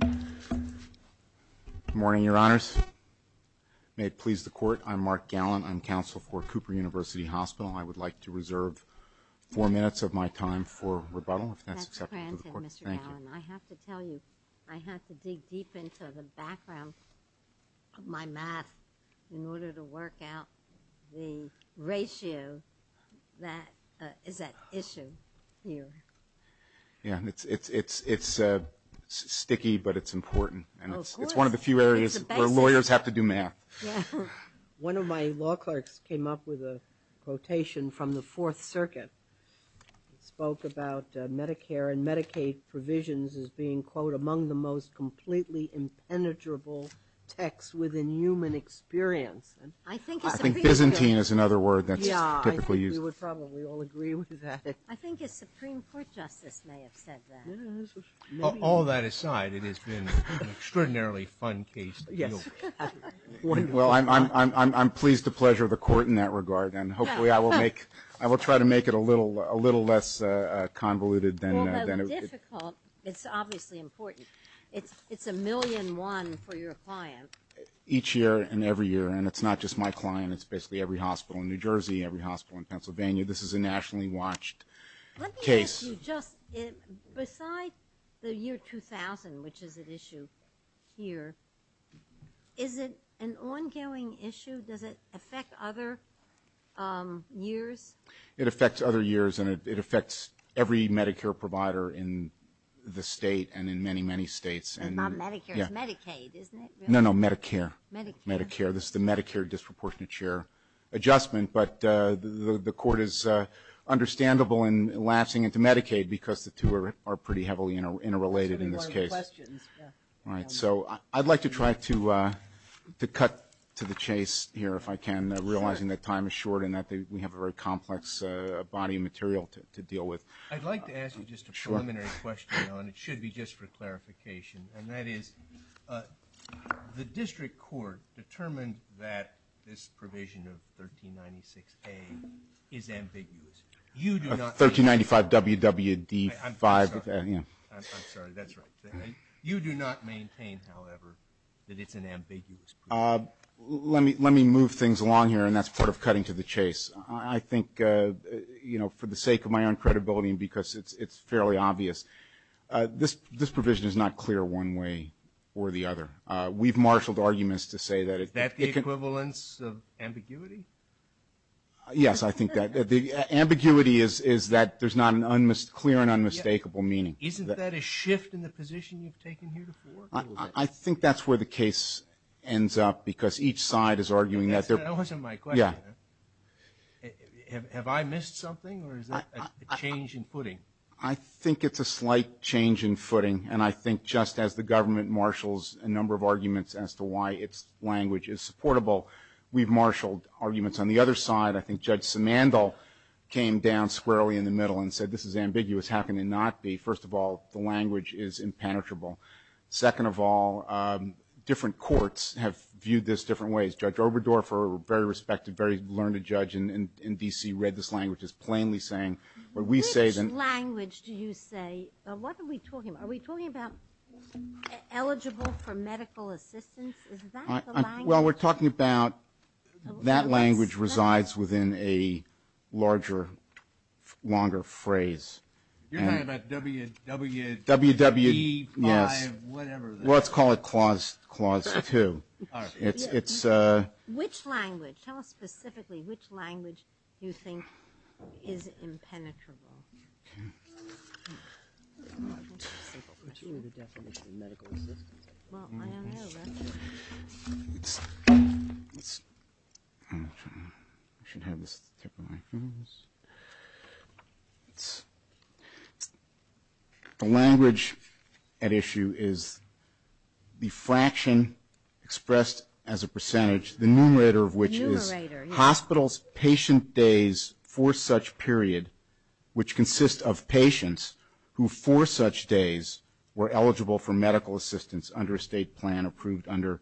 Good morning, Your Honors. May it please the Court, I'm Mark Gallin. I'm counsel for Cooper University Hospital. I would like to reserve four minutes of my time for rebuttal, if that's acceptable to the Court. That's granted, Mr. Gallin. I have to tell you, I have to dig deep into the background of my math in order to work out the ratio that is at issue here. It's sticky, but it's important. It's one of the few areas where lawyers have to do math. One of my law clerks came up with a quotation from the Fourth Circuit. It spoke about Medicare and Medicaid provisions as being, quote, among the most completely impenetrable texts within human experience. I think it's a pretty good... I think Byzantine is another word that's typically used. We would probably all agree with that. I think a Supreme Court justice may have said that. All that aside, it has been an extraordinarily fun case. Yes. Well, I'm pleased to pleasure the Court in that regard, and hopefully I will try to make it a little less convoluted than... Although difficult, it's obviously important. It's a million-one for your client. Each year and every year, and it's not just my client. It's basically every hospital in New York, Pennsylvania. This is a nationally watched case. Let me ask you just, beside the year 2000, which is at issue here, is it an ongoing issue? Does it affect other years? It affects other years, and it affects every Medicare provider in the state and in many, many states. And not Medicare, it's Medicaid, isn't it? No, no, Medicare. Medicare. This is the Medicare disproportionate share adjustment. But the Court is understandable in lapsing into Medicaid because the two are pretty heavily interrelated in this case. That's going to be one of the questions. Right. So I'd like to try to cut to the chase here, if I can, realizing that time is short and that we have a very complex body of material to deal with. I'd like to ask you just a preliminary question, and it should be just for clarification. And that is, the District Court determined that this provision of 1396A is ambiguous. 1395WWD5. I'm sorry, that's right. You do not maintain, however, that it's an ambiguous provision. Let me move things along here, and that's part of cutting to the chase. I think, you know, for the sake of my own credibility and because it's fairly obvious, this provision is not clear one way or the other. We've marshaled arguments to say that it could be. Is that the equivalence of ambiguity? Yes, I think that. Ambiguity is that there's not a clear and unmistakable meaning. Isn't that a shift in the position you've taken here before? I think that's where the case ends up because each side is arguing that. That wasn't my question. Yeah. Have I missed something, or is that a change in footing? I think it's a slight change in footing, and I think just as the government marshals a number of arguments as to why its language is supportable, we've marshaled arguments on the other side. I think Judge Simandl came down squarely in the middle and said, this is ambiguous, how can it not be? First of all, the language is impenetrable. Second of all, different courts have viewed this different ways. Judge Oberdorfer, a very respected, very learned judge in D.C., who read this language, is plainly saying what we say. Which language do you say? What are we talking about? Are we talking about eligible for medical assistance? Is that the language? Well, we're talking about that language resides within a larger, longer phrase. You're talking about W, E, whatever. Well, let's call it Clause 2. Which language? Tell us specifically which language you think is impenetrable. Okay. The language at issue is the fraction expressed as a percentage, the numerator of which is hospitals' patient days for such period, which consists of patients who for such days were eligible for medical assistance under a state plan approved under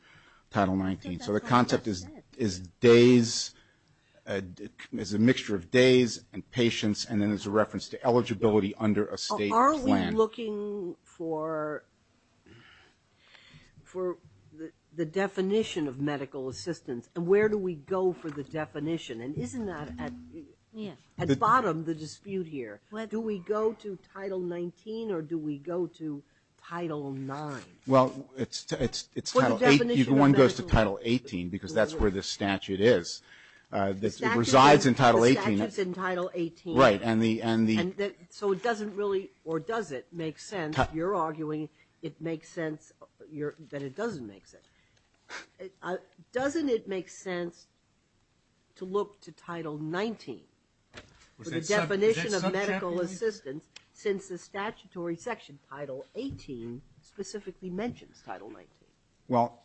Title 19. So the concept is days, is a mixture of days and patients, and then there's a reference to eligibility under a state plan. Are we looking for the definition of medical assistance? And where do we go for the definition? And isn't that at bottom the dispute here? Do we go to Title 19 or do we go to Title 9? Well, it's Title 18. One goes to Title 18 because that's where the statute is. It resides in Title 18. The statute's in Title 18. Right. So it doesn't really, or does it, make sense? You're arguing it makes sense, that it doesn't make sense. Doesn't it make sense to look to Title 19 for the definition of medical assistance since the statutory section, Title 18, specifically mentions Title 19? Well,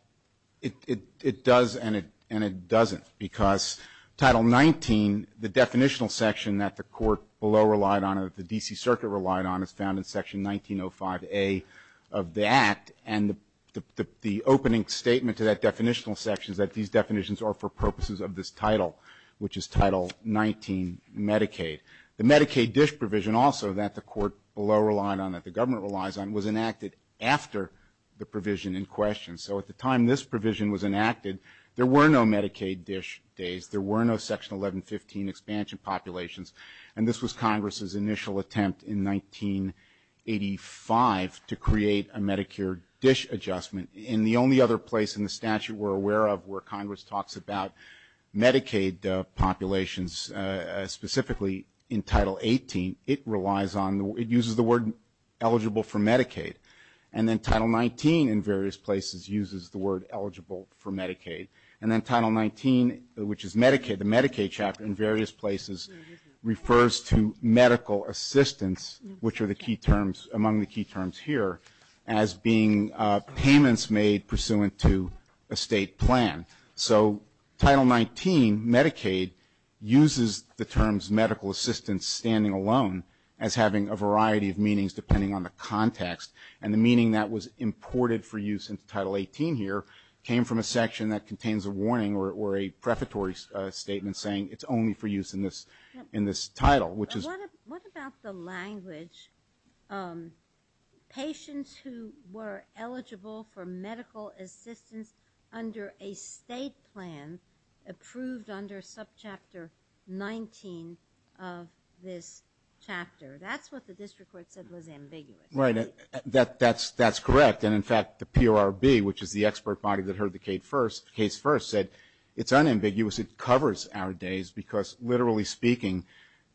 it does and it doesn't because Title 19, the definitional section that the court below relied on, that the D.C. Circuit relied on, is found in Section 1905A of the Act, and the opening statement to that definitional section is that these definitions are for purposes of this title, which is Title 19, Medicaid. The Medicaid dish provision also that the court below relied on, that the government relies on, was enacted after the provision in question. So at the time this provision was enacted, there were no Medicaid dish days. There were no Section 1115 expansion populations, and this was Congress's initial attempt in 1985 to create a Medicare dish adjustment. In the only other place in the statute we're aware of where Congress talks about Medicaid populations, specifically in Title 18, it relies on, it uses the word eligible for Medicaid, and then Title 19 in various places uses the word eligible for Medicaid, and then Title 19, which is Medicaid, the Medicaid chapter in various places, refers to medical assistance, which are the key terms, among the key terms here, as being payments made pursuant to a state plan. So Title 19, Medicaid, uses the terms medical assistance, standing alone, as having a variety of meanings depending on the context, and the meaning that was imported for use in Title 18 here came from a section that contains a warning or a prefatory statement saying it's only for use in this title, which is... What about the language, patients who were eligible for medical assistance under a state plan approved under subchapter 19 of this chapter? That's what the district court said was ambiguous. Right, that's correct, and in fact, the PRB, which is the expert body that heard the case first, said it's unambiguous, it covers our days, because literally speaking,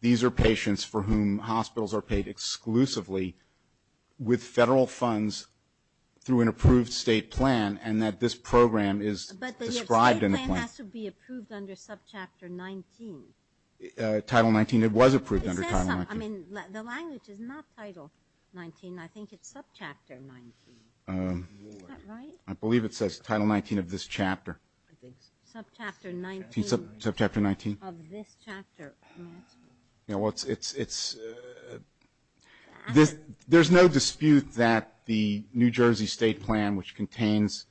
these are patients for whom hospitals are paid exclusively with federal funds through an approved state plan, and that this program is described in the plan. But the state plan has to be approved under subchapter 19. Title 19, it was approved under Title 19. The language is not Title 19. I think it's subchapter 19. Is that right? I believe it says Title 19 of this chapter. Subchapter 19. Subchapter 19. Of this chapter. It's... There's no dispute that the New Jersey state plan, which contains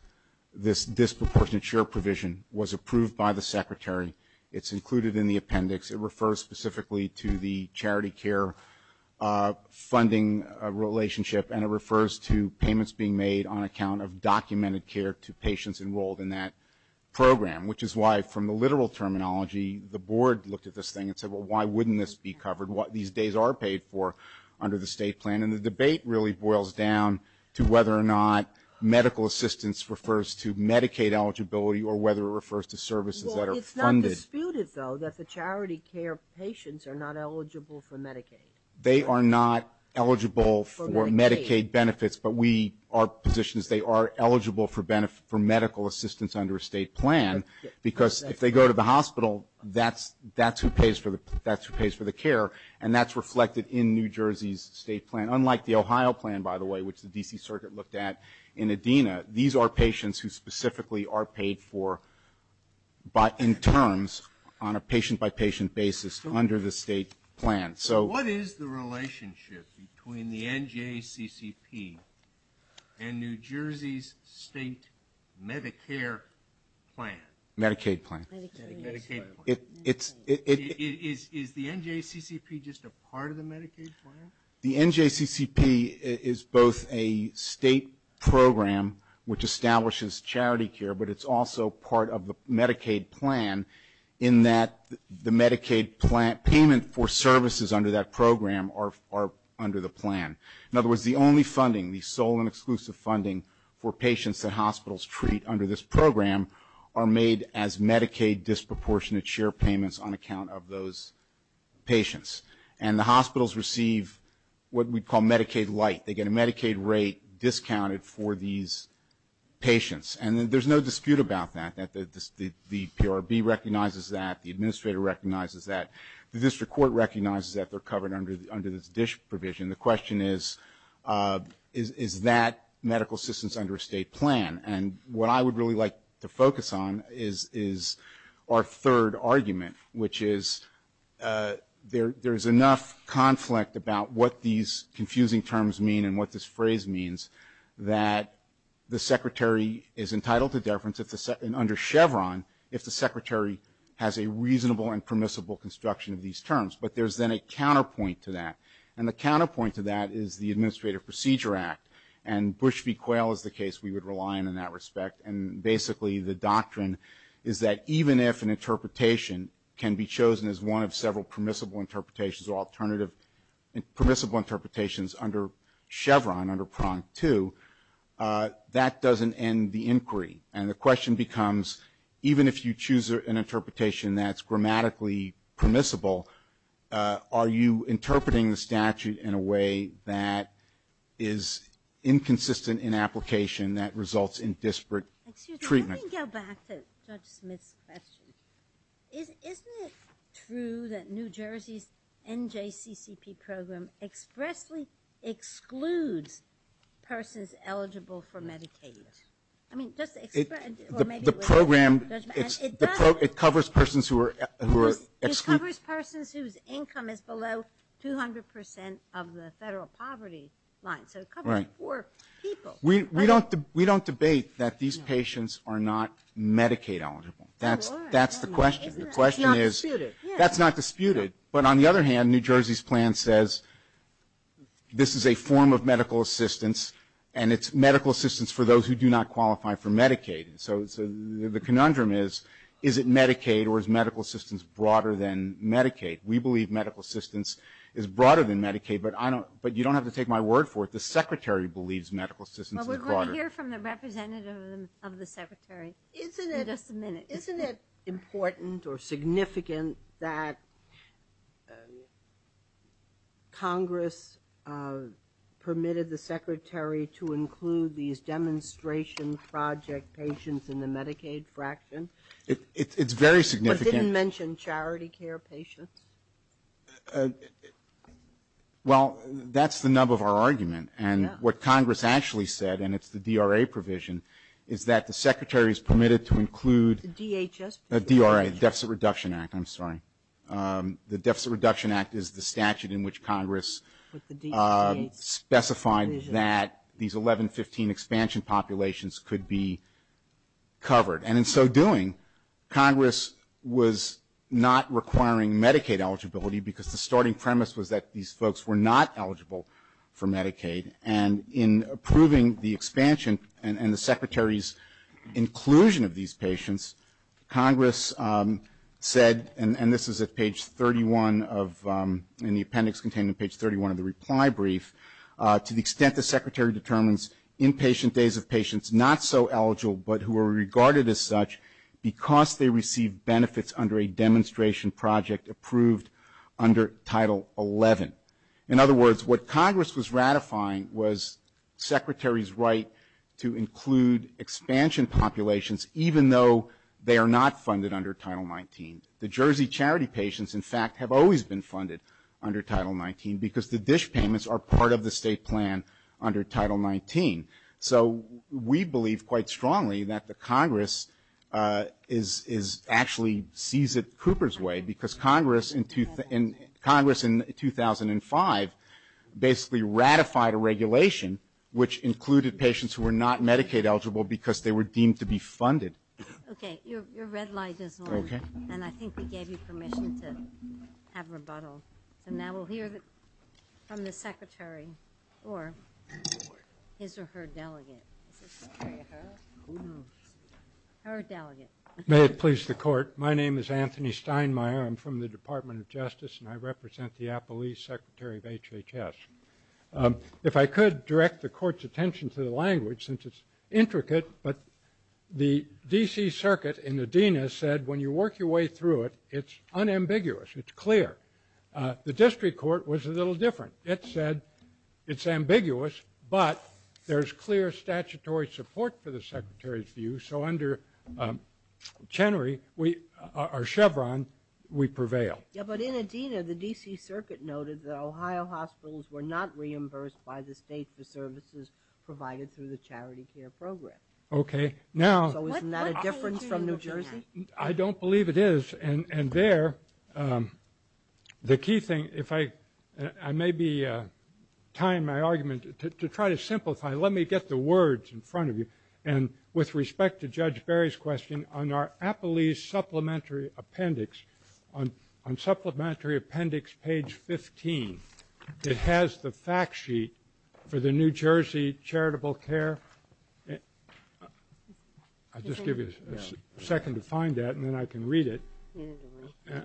this disproportionate share provision, was approved by the secretary. It's included in the appendix. It refers specifically to the charity care funding relationship, and it refers to payments being made on account of documented care to patients enrolled in that program, which is why, from the literal terminology, the board looked at this thing and said, well, why wouldn't this be covered? These days are paid for under the state plan, and the debate really boils down to whether or not medical assistance refers to Medicaid eligibility or whether it refers to services that are funded. It's disputed, though, that the charity care patients are not eligible for Medicaid. They are not eligible for Medicaid benefits, but we are positioned as they are eligible for medical assistance under a state plan, because if they go to the hospital, that's who pays for the care, and that's reflected in New Jersey's state plan. Unlike the Ohio plan, by the way, which the D.C. Circuit looked at in ADENA, these are patients who specifically are paid for in terms on a patient-by-patient basis under the state plan. So what is the relationship between the NJCCP and New Jersey's state Medicare plan? Medicaid plan. Medicaid plan. Is the NJCCP just a part of the Medicaid plan? The NJCCP is both a state program which establishes charity care, but it's also part of the Medicaid plan, in that the Medicaid payment for services under that program are under the plan. In other words, the only funding, the sole and exclusive funding for patients that hospitals treat under this program are made as Medicaid disproportionate share payments on account of those patients. And the hospitals receive what we call Medicaid light. They get a Medicaid rate discounted for these patients. And there's no dispute about that, that the PRB recognizes that, the administrator recognizes that, the district court recognizes that they're covered under this DISH provision. The question is, is that medical assistance under a state plan? And what I would really like to focus on is our third argument, which is there's enough conflict about what these confusing terms mean and what this phrase means that the secretary is entitled to deference under Chevron if the secretary has a reasonable and permissible construction of these terms. But there's then a counterpoint to that. And the counterpoint to that is the Administrative Procedure Act. And Bush v. Quayle is the case we would rely on in that respect. And basically the doctrine is that even if an interpretation can be chosen as one of several permissible interpretations or alternative permissible interpretations under Chevron, under Prompt 2, that doesn't end the inquiry. And the question becomes, even if you choose an interpretation that's grammatically permissible, are you interpreting the statute in a way that is inconsistent in application, that results in disparate treatment? Excuse me, let me go back to Judge Smith's question. Isn't it true that New Jersey's NJCCP program expressly excludes persons eligible for Medicaid? I mean, just expressly, or maybe it was Judge Bassett. It covers persons who are excluded. It covers persons whose income is below 200 percent of the federal poverty line. So it covers four people. We don't debate that these patients are not Medicaid eligible. That's the question. It's not disputed. That's not disputed. But on the other hand, New Jersey's plan says this is a form of medical assistance, and it's medical assistance for those who do not qualify for Medicaid. So the conundrum is, is it Medicaid or is medical assistance broader than Medicaid? We believe medical assistance is broader than Medicaid, but you don't have to take my word for it. The Secretary believes medical assistance is broader. Well, we're going to hear from the representative of the Secretary in just a minute. Isn't it important or significant that Congress permitted the Secretary to include these demonstration project patients in the Medicaid fraction? It's very significant. But didn't mention charity care patients? Well, that's the nub of our argument. And what Congress actually said, and it's the DRA provision, is that the Secretary's permitted to include The DRA, the Deficit Reduction Act, I'm sorry. The Deficit Reduction Act is the statute in which Congress specified that these 1115 expansion populations could be covered. And in so doing, Congress was not requiring Medicaid eligibility because the starting premise was that these folks were not eligible for Medicaid. And in approving the expansion and the Secretary's inclusion of these patients, Congress said, and this is at page 31 of the appendix contained in page 31 of the reply brief, to the extent the Secretary determines inpatient days of patients not so eligible but who are regarded as such because they receive benefits under a demonstration project approved under Title 11. In other words, what Congress was ratifying was Secretary's right to include expansion populations, even though they are not funded under Title 19. The Jersey charity patients, in fact, have always been funded under Title 19, because the dish payments are part of the state plan under Title 19. So we believe quite strongly that the Congress is actually sees it Cooper's way, because Congress in 2005 basically ratified a regulation, which included patients who were not Medicaid eligible because they were deemed to be funded. Okay. Your red light is on. Okay. And I think we gave you permission to have rebuttal. So now we'll hear from the Secretary or his or her delegate. Her delegate. May it please the Court. My name is Anthony Steinmeier. I'm from the Department of Justice, and I represent the Appalachian Secretary of HHS. If I could direct the Court's attention to the language, since it's intricate, but the D.C. Circuit in Adina said when you work your way through it, it's unambiguous. It's clear. The district court was a little different. It said it's ambiguous, but there's clear statutory support for the Secretary's view. So under Chenery or Chevron, we prevail. Yeah, but in Adina, the D.C. Circuit noted that Ohio hospitals were not reimbursed by the state for services provided through the charity care program. Okay. So isn't that a difference from New Jersey? I don't believe it is. And there, the key thing, if I may be tying my argument, to try to simplify it, let me get the words in front of you. And with respect to Judge Berry's question, on our Appalachian Supplementary Appendix, on Supplementary Appendix page 15, it has the fact sheet for the New Jersey charitable care. I'll just give you a second to find that, and then I can read it.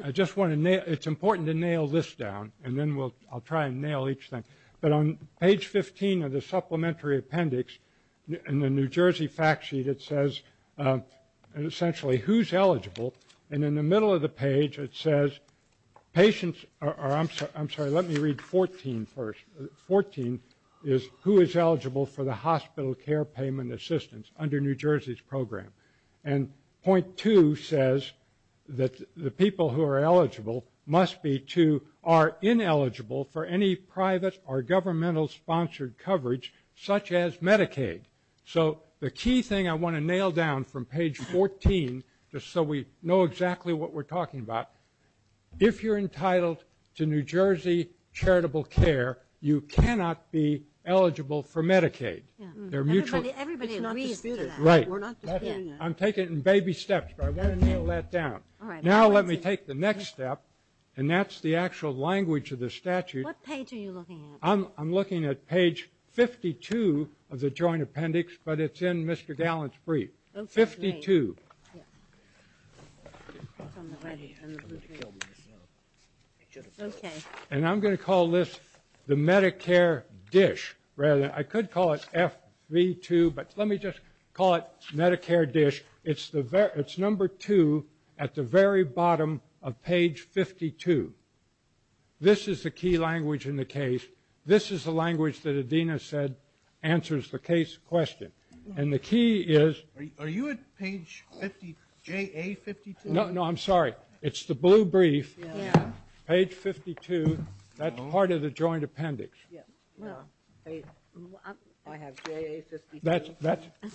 I just want to nail ñ it's important to nail this down, and then I'll try and nail each thing. But on page 15 of the Supplementary Appendix, in the New Jersey fact sheet, it says essentially who's eligible. And in the middle of the page, it says patients are ñ I'm sorry, let me read 14 first. Fourteen is who is eligible for the hospital care payment assistance under New Jersey's program. And point two says that the people who are eligible must be to ñ are ineligible for any private or governmental-sponsored coverage, such as Medicaid. So the key thing I want to nail down from page 14, just so we know exactly what we're talking about, if you're entitled to New Jersey charitable care, you cannot be eligible for Medicaid. They're mutually ñ Everybody agrees to that. Right. We're not disputing that. I'm taking it in baby steps, but I want to nail that down. All right. Now let me take the next step, and that's the actual language of the statute. What page are you looking at? I'm looking at page 52 of the Joint Appendix, but it's in Mr. Gallant's brief. 52. Okay. And I'm going to call this the Medicare dish, rather. I could call it FV2, but let me just call it Medicare dish. It's number two at the very bottom of page 52. This is the key language in the case. This is the language that Adina said answers the case question. And the key is ñ Are you at page 50, JA52? No, I'm sorry. It's the blue brief, page 52. That's part of the Joint Appendix. I have JA52.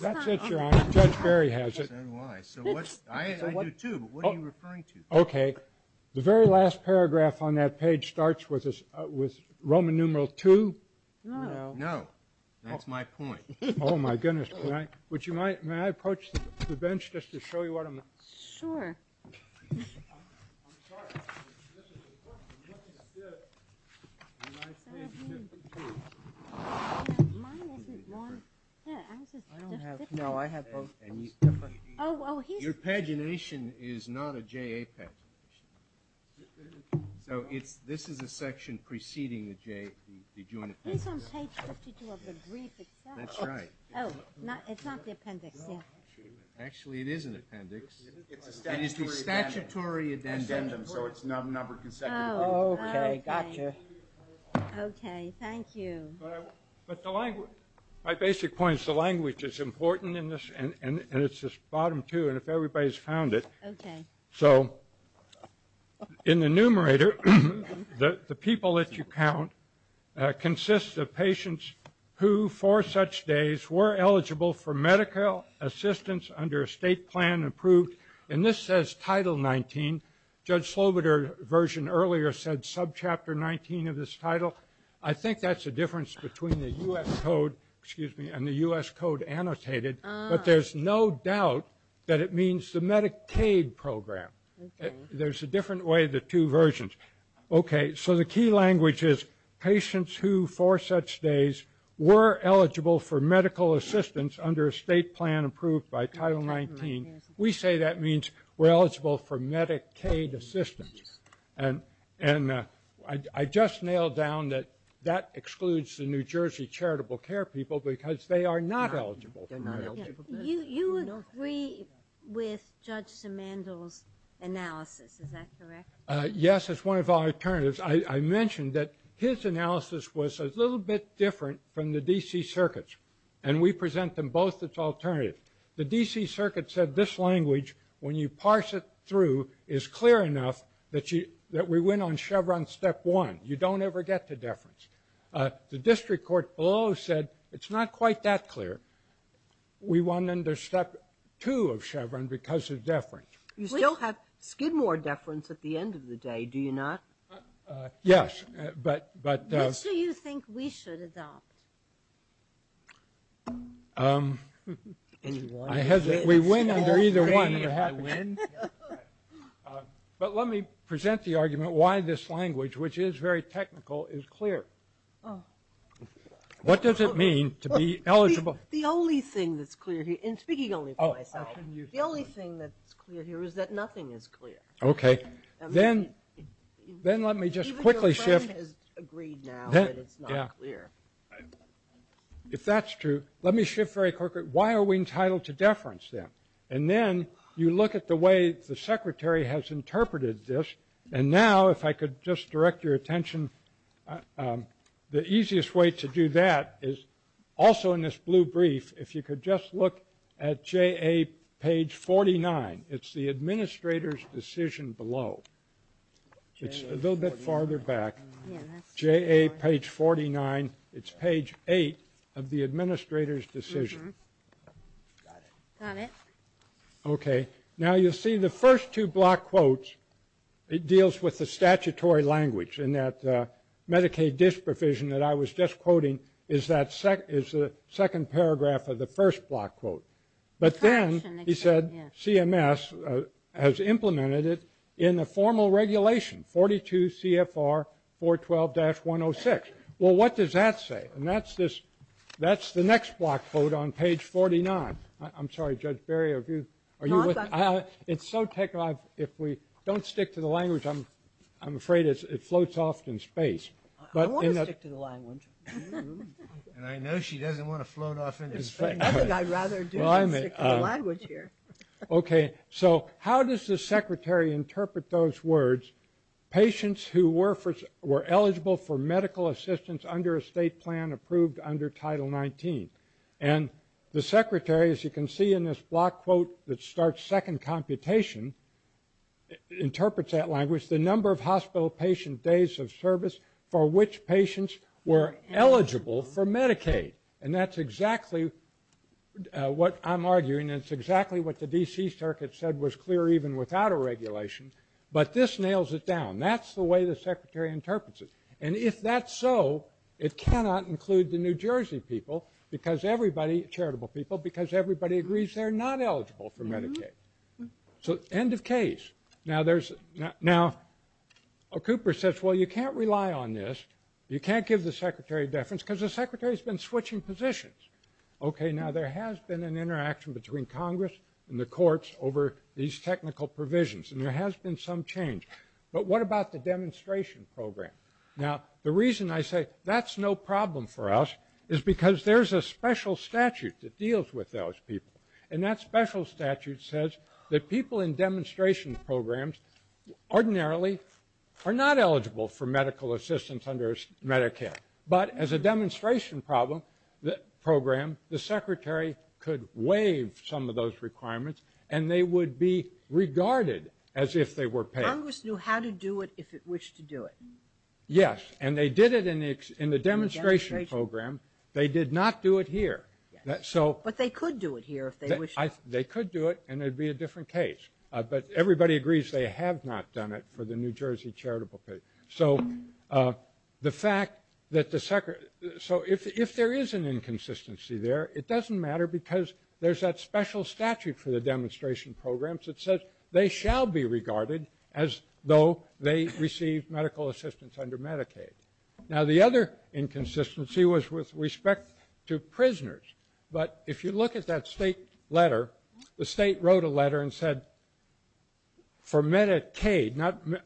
That's it, Your Honor. Judge Berry has it. So what's ñ I do too, but what are you referring to? Okay. The very last paragraph on that page starts with Roman numeral II. No. No. That's my point. Oh, my goodness. May I approach the bench just to show you what I'm ñ Sure. Your pagination is not a JA pagination. So this is a section preceding the Joint Appendix. It is on page 52 of the brief itself. That's right. Oh, it's not the appendix, yeah. Actually, it is an appendix. It's a statutory addendum, so it's numbered consecutively. Oh, okay. Gotcha. Okay. Thank you. But the language ñ my basic point is the language is important in this, and it's this bottom two, and if everybody's found it. Okay. So in the numerator, the people that you count consists of patients who, for such days, were eligible for medical assistance under a state plan approved ñ and this says Title XIX. Judge Slobodur's version earlier said subchapter XIX of this title. I think that's the difference between the U.S. code ñ excuse me ñ and the U.S. code annotated. But there's no doubt that it means the Medicaid program. There's a different way of the two versions. Okay. So the key language is patients who, for such days, were eligible for medical assistance under a state plan approved by Title XIX. We say that means we're eligible for Medicaid assistance. And I just nailed down that that excludes the New Jersey charitable care people because they are not eligible for Medicaid. You agree with Judge Simandl's analysis. Is that correct? Yes. It's one of our alternatives. I mentioned that his analysis was a little bit different from the D.C. Circuit's, and we present them both as alternatives. The D.C. Circuit said this language, when you parse it through, is clear enough that we went on Chevron step one. You don't ever get to deference. The district court below said it's not quite that clear. We won under step two of Chevron because of deference. You still have Skidmore deference at the end of the day, do you not? Yes, but ñ Which do you think we should adopt? We win under either one. But let me present the argument why this language, which is very technical, is clear. What does it mean to be eligible? The only thing that's clear here, and speaking only for myself, the only thing that's clear here is that nothing is clear. Okay. Then let me just quickly shift ñ Even your firm has agreed now that it's not clear. If that's true, let me shift very quickly. Why are we entitled to deference then? And then you look at the way the secretary has interpreted this, and now, if I could just direct your attention, the easiest way to do that is also in this blue brief, if you could just look at J.A. page 49. It's the administrator's decision below. It's a little bit farther back. J.A. page 49. It's page eight of the administrator's decision. Got it. Got it. Okay. Now, you'll see the first two block quotes, it deals with the statutory language in that Medicaid disprovision that I was just quoting is the second paragraph of the first block quote. But then he said CMS has implemented it in the formal regulation, 42 CFR 412-106. Well, what does that say? And that's the next block quote on page 49. I'm sorry, Judge Barry, are you with me? It's so technical, if we don't stick to the language, I'm afraid it floats off in space. I want to stick to the language. And I know she doesn't want to float off into space. I think I'd rather do stick to the language here. Okay. So how does the secretary interpret those words, patients who were eligible for medical assistance under a state plan approved under Title 19? And the secretary, as you can see in this block quote that starts second computation, interprets that language, the number of hospital patient days of service for which patients were eligible for Medicaid. And that's exactly what I'm arguing, and it's exactly what the D.C. Circuit said was clear even without a regulation. But this nails it down. That's the way the secretary interprets it. And if that's so, it cannot include the New Jersey people because everybody, charitable people, because everybody agrees they're not eligible for Medicaid. So end of case. Now Cooper says, well, you can't rely on this. You can't give the secretary deference because the secretary has been switching positions. Okay, now there has been an interaction between Congress and the courts over these technical provisions, and there has been some change. But what about the demonstration program? Now the reason I say that's no problem for us is because there's a special statute that deals with those people. And that special statute says that people in demonstration programs ordinarily are not eligible for medical assistance under Medicaid. But as a demonstration program, the secretary could waive some of those requirements, and they would be regarded as if they were paid. Congress knew how to do it if it wished to do it. Yes, and they did it in the demonstration program. They did not do it here. But they could do it here if they wished. They could do it, and it would be a different case. But everybody agrees they have not done it for the New Jersey charitable people. So the fact that the secretary so if there is an inconsistency there, it doesn't matter because there's that special statute for the demonstration programs that says they shall be regarded as though they received medical assistance under Medicaid. Now the other inconsistency was with respect to prisoners. But if you look at that state letter, the state wrote a letter and said for Medicaid,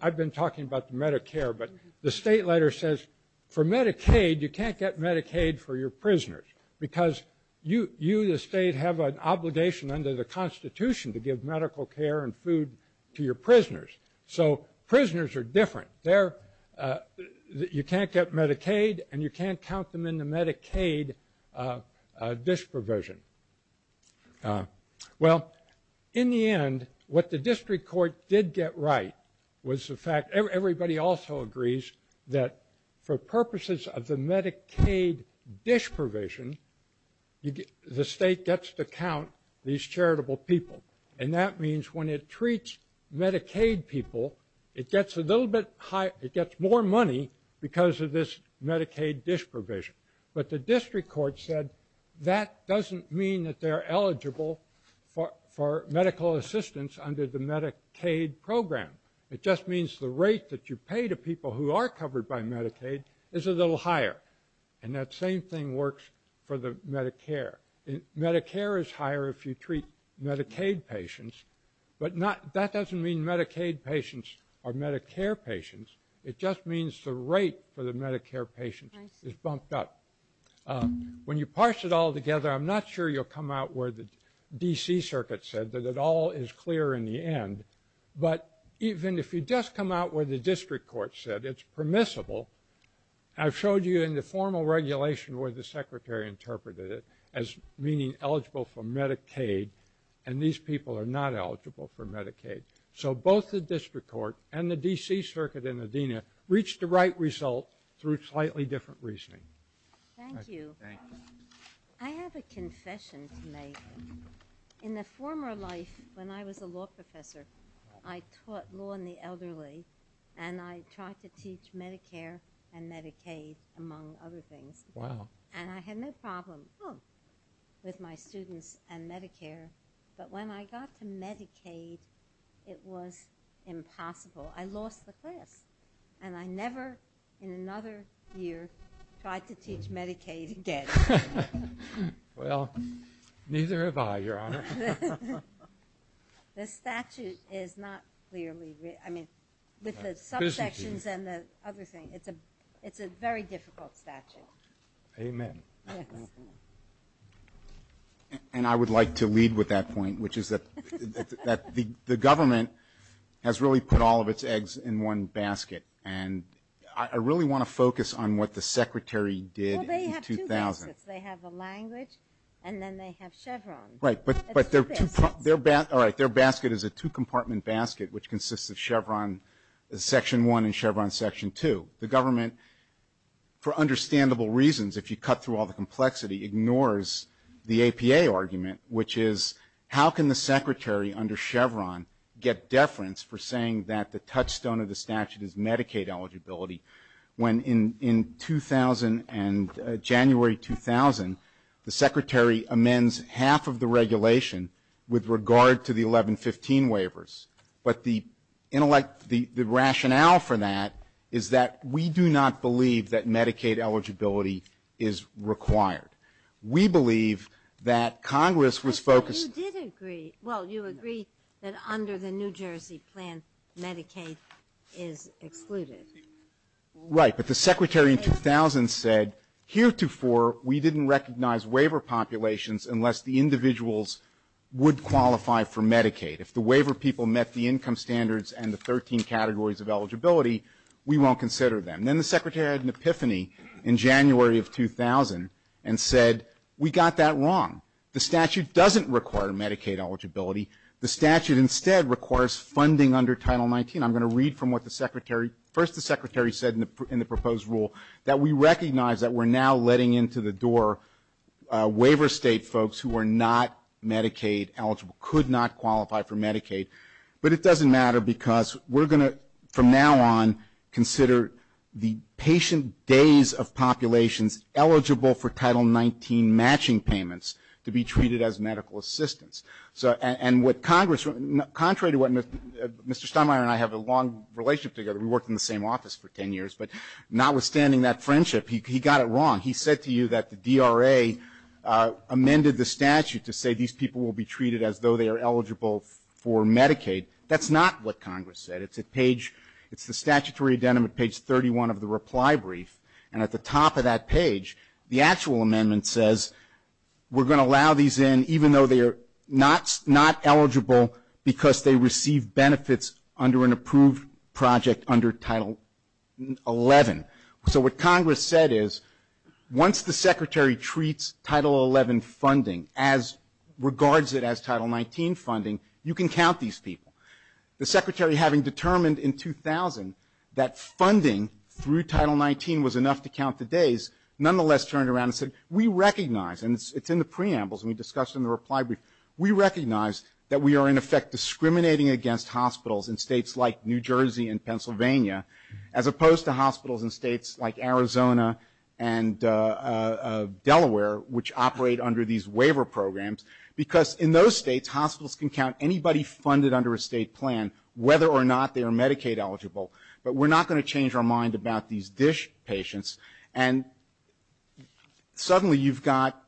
I've been talking about Medicare, but the state letter says for Medicaid, you can't get Medicaid for your prisoners because you, the state, have an obligation under the Constitution to give medical care and food to your prisoners. So prisoners are different. You can't get Medicaid, and you can't count them in the Medicaid dish provision. Well, in the end, what the district court did get right was the fact, everybody also agrees that for purposes of the Medicaid dish provision, the state gets to count these charitable people. And that means when it treats Medicaid people, it gets a little bit higher, it gets more money because of this Medicaid dish provision. But the district court said that doesn't mean that they're eligible for medical assistance under the Medicaid program. It just means the rate that you pay to people who are covered by Medicaid is a little higher. And that same thing works for the Medicare. Medicare is higher if you treat Medicaid patients, but that doesn't mean Medicaid patients are Medicare patients. It just means the rate for the Medicare patients is bumped up. When you parse it all together, I'm not sure you'll come out where the D.C. Circuit said, that it all is clear in the end. But even if you just come out where the district court said it's permissible, I've showed you in the formal regulation where the secretary interpreted it as meaning eligible for Medicaid, and these people are not eligible for Medicaid. So both the district court and the D.C. Circuit in Adena reached the right result through slightly different reasoning. Thank you. I have a confession to make. In a former life, when I was a law professor, I taught law in the elderly, and I tried to teach Medicare and Medicaid, among other things. Wow. And I had no problem with my students and Medicare. But when I got to Medicaid, it was impossible. I lost the class, and I never in another year tried to teach Medicaid again. Well, neither have I, Your Honor. The statute is not clearly written. I mean, with the subsections and the other thing, it's a very difficult statute. Amen. And I would like to lead with that point, which is that the government has really put all of its eggs in one basket. And I really want to focus on what the secretary did in 2000. Well, they have two baskets. They have a language, and then they have Chevron. Right, but their basket is a two-compartment basket, which consists of Chevron Section 1 and Chevron Section 2. The government, for understandable reasons, if you cut through all the complexity, ignores the APA argument, which is how can the secretary under Chevron get deference for saying that the touchstone of the statute is Medicaid eligibility, when in 2000 and January 2000, the secretary amends half of the regulation with regard to the 1115 waivers. But the rationale for that is that we do not believe that Medicaid eligibility is required. We believe that Congress was focused to do. But you did agree. Well, you agree that under the New Jersey plan, Medicaid is excluded. Right. But the secretary in 2000 said heretofore we didn't recognize waiver populations unless the individuals would qualify for Medicaid. If the waiver people met the income standards and the 13 categories of eligibility, we won't consider them. And then the secretary had an epiphany in January of 2000 and said we got that wrong. The statute doesn't require Medicaid eligibility. The statute instead requires funding under Title 19. I'm going to read from what the secretary, first the secretary said in the proposed rule, that we recognize that we're now letting into the door waiver state folks who are not Medicaid eligible, could not qualify for Medicaid. But it doesn't matter because we're going to, from now on, consider the patient days of populations eligible for Title 19 matching payments to be treated as medical assistance. And what Congress, contrary to what Mr. Steinmeier and I have a long relationship together, we worked in the same office for 10 years, but notwithstanding that friendship, he got it wrong. He said to you that the DRA amended the statute to say these people will be treated as though they are eligible for Medicaid. That's not what Congress said. It's at page, it's the statutory addendum at page 31 of the reply brief. And at the top of that page, the actual amendment says we're going to allow these in even though they are not eligible because they receive benefits under an approved project under Title 11. So what Congress said is once the secretary treats Title 11 funding as, regards it as Title 19 funding, you can count these people. The secretary having determined in 2000 that funding through Title 19 was enough to count the days, nonetheless turned around and said we recognize, and it's in the preambles, and we discussed in the reply brief, we recognize that we are in effect discriminating against hospitals in states like New Jersey and Pennsylvania as opposed to hospitals in states like Arizona and Delaware, which operate under these waiver programs because in those states, hospitals can count anybody funded under a state plan whether or not they are Medicaid eligible. But we're not going to change our mind about these DISH patients. And suddenly you've got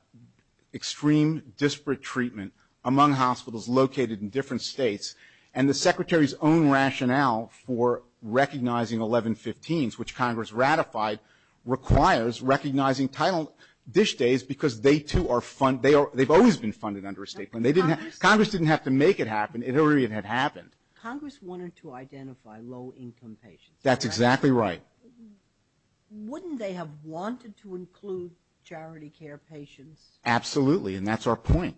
extreme disparate treatment among hospitals located in different states, and the secretary's own rationale for recognizing 1115s, which Congress ratified, requires recognizing Title DISH days because they, too, are funded. They've always been funded under a state plan. Congress didn't have to make it happen. It already had happened. Congress wanted to identify low-income patients. That's exactly right. Wouldn't they have wanted to include charity care patients? Absolutely, and that's our point.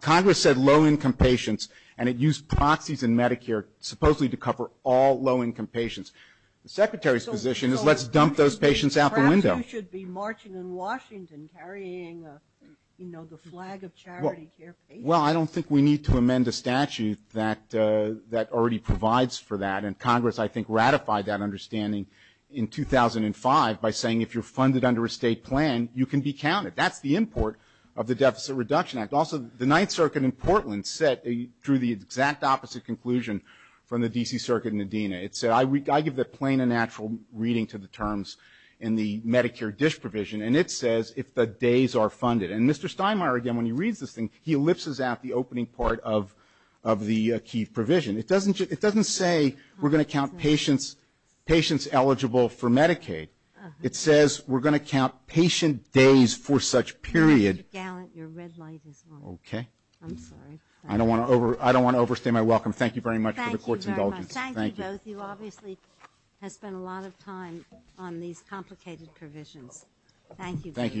Congress said low-income patients, and it used proxies in Medicare supposedly to cover all low-income patients. The secretary's position is let's dump those patients out the window. Perhaps you should be marching in Washington carrying, you know, the flag of charity care patients. Well, I don't think we need to amend the statute that already provides for that, and Congress, I think, ratified that understanding in 2005 by saying if you're funded under a state plan, you can be counted. That's the import of the Deficit Reduction Act. Also, the Ninth Circuit in Portland drew the exact opposite conclusion from the D.C. Circuit in Adena. It said I give the plain and natural reading to the terms in the Medicare DISH provision, and it says if the days are funded. And Mr. Steinmeier, again, when he reads this thing, he ellipses out the opening part of the key provision. It doesn't say we're going to count patients eligible for Medicaid. It says we're going to count patient days for such period. Mr. Gallant, your red light is on. Okay. I'm sorry. I don't want to overstate my welcome. Thank you very much for the Court's indulgence. Thank you very much. Thank you both. You obviously have spent a lot of time on these complicated provisions. Thank you. Thank you, Your Honors.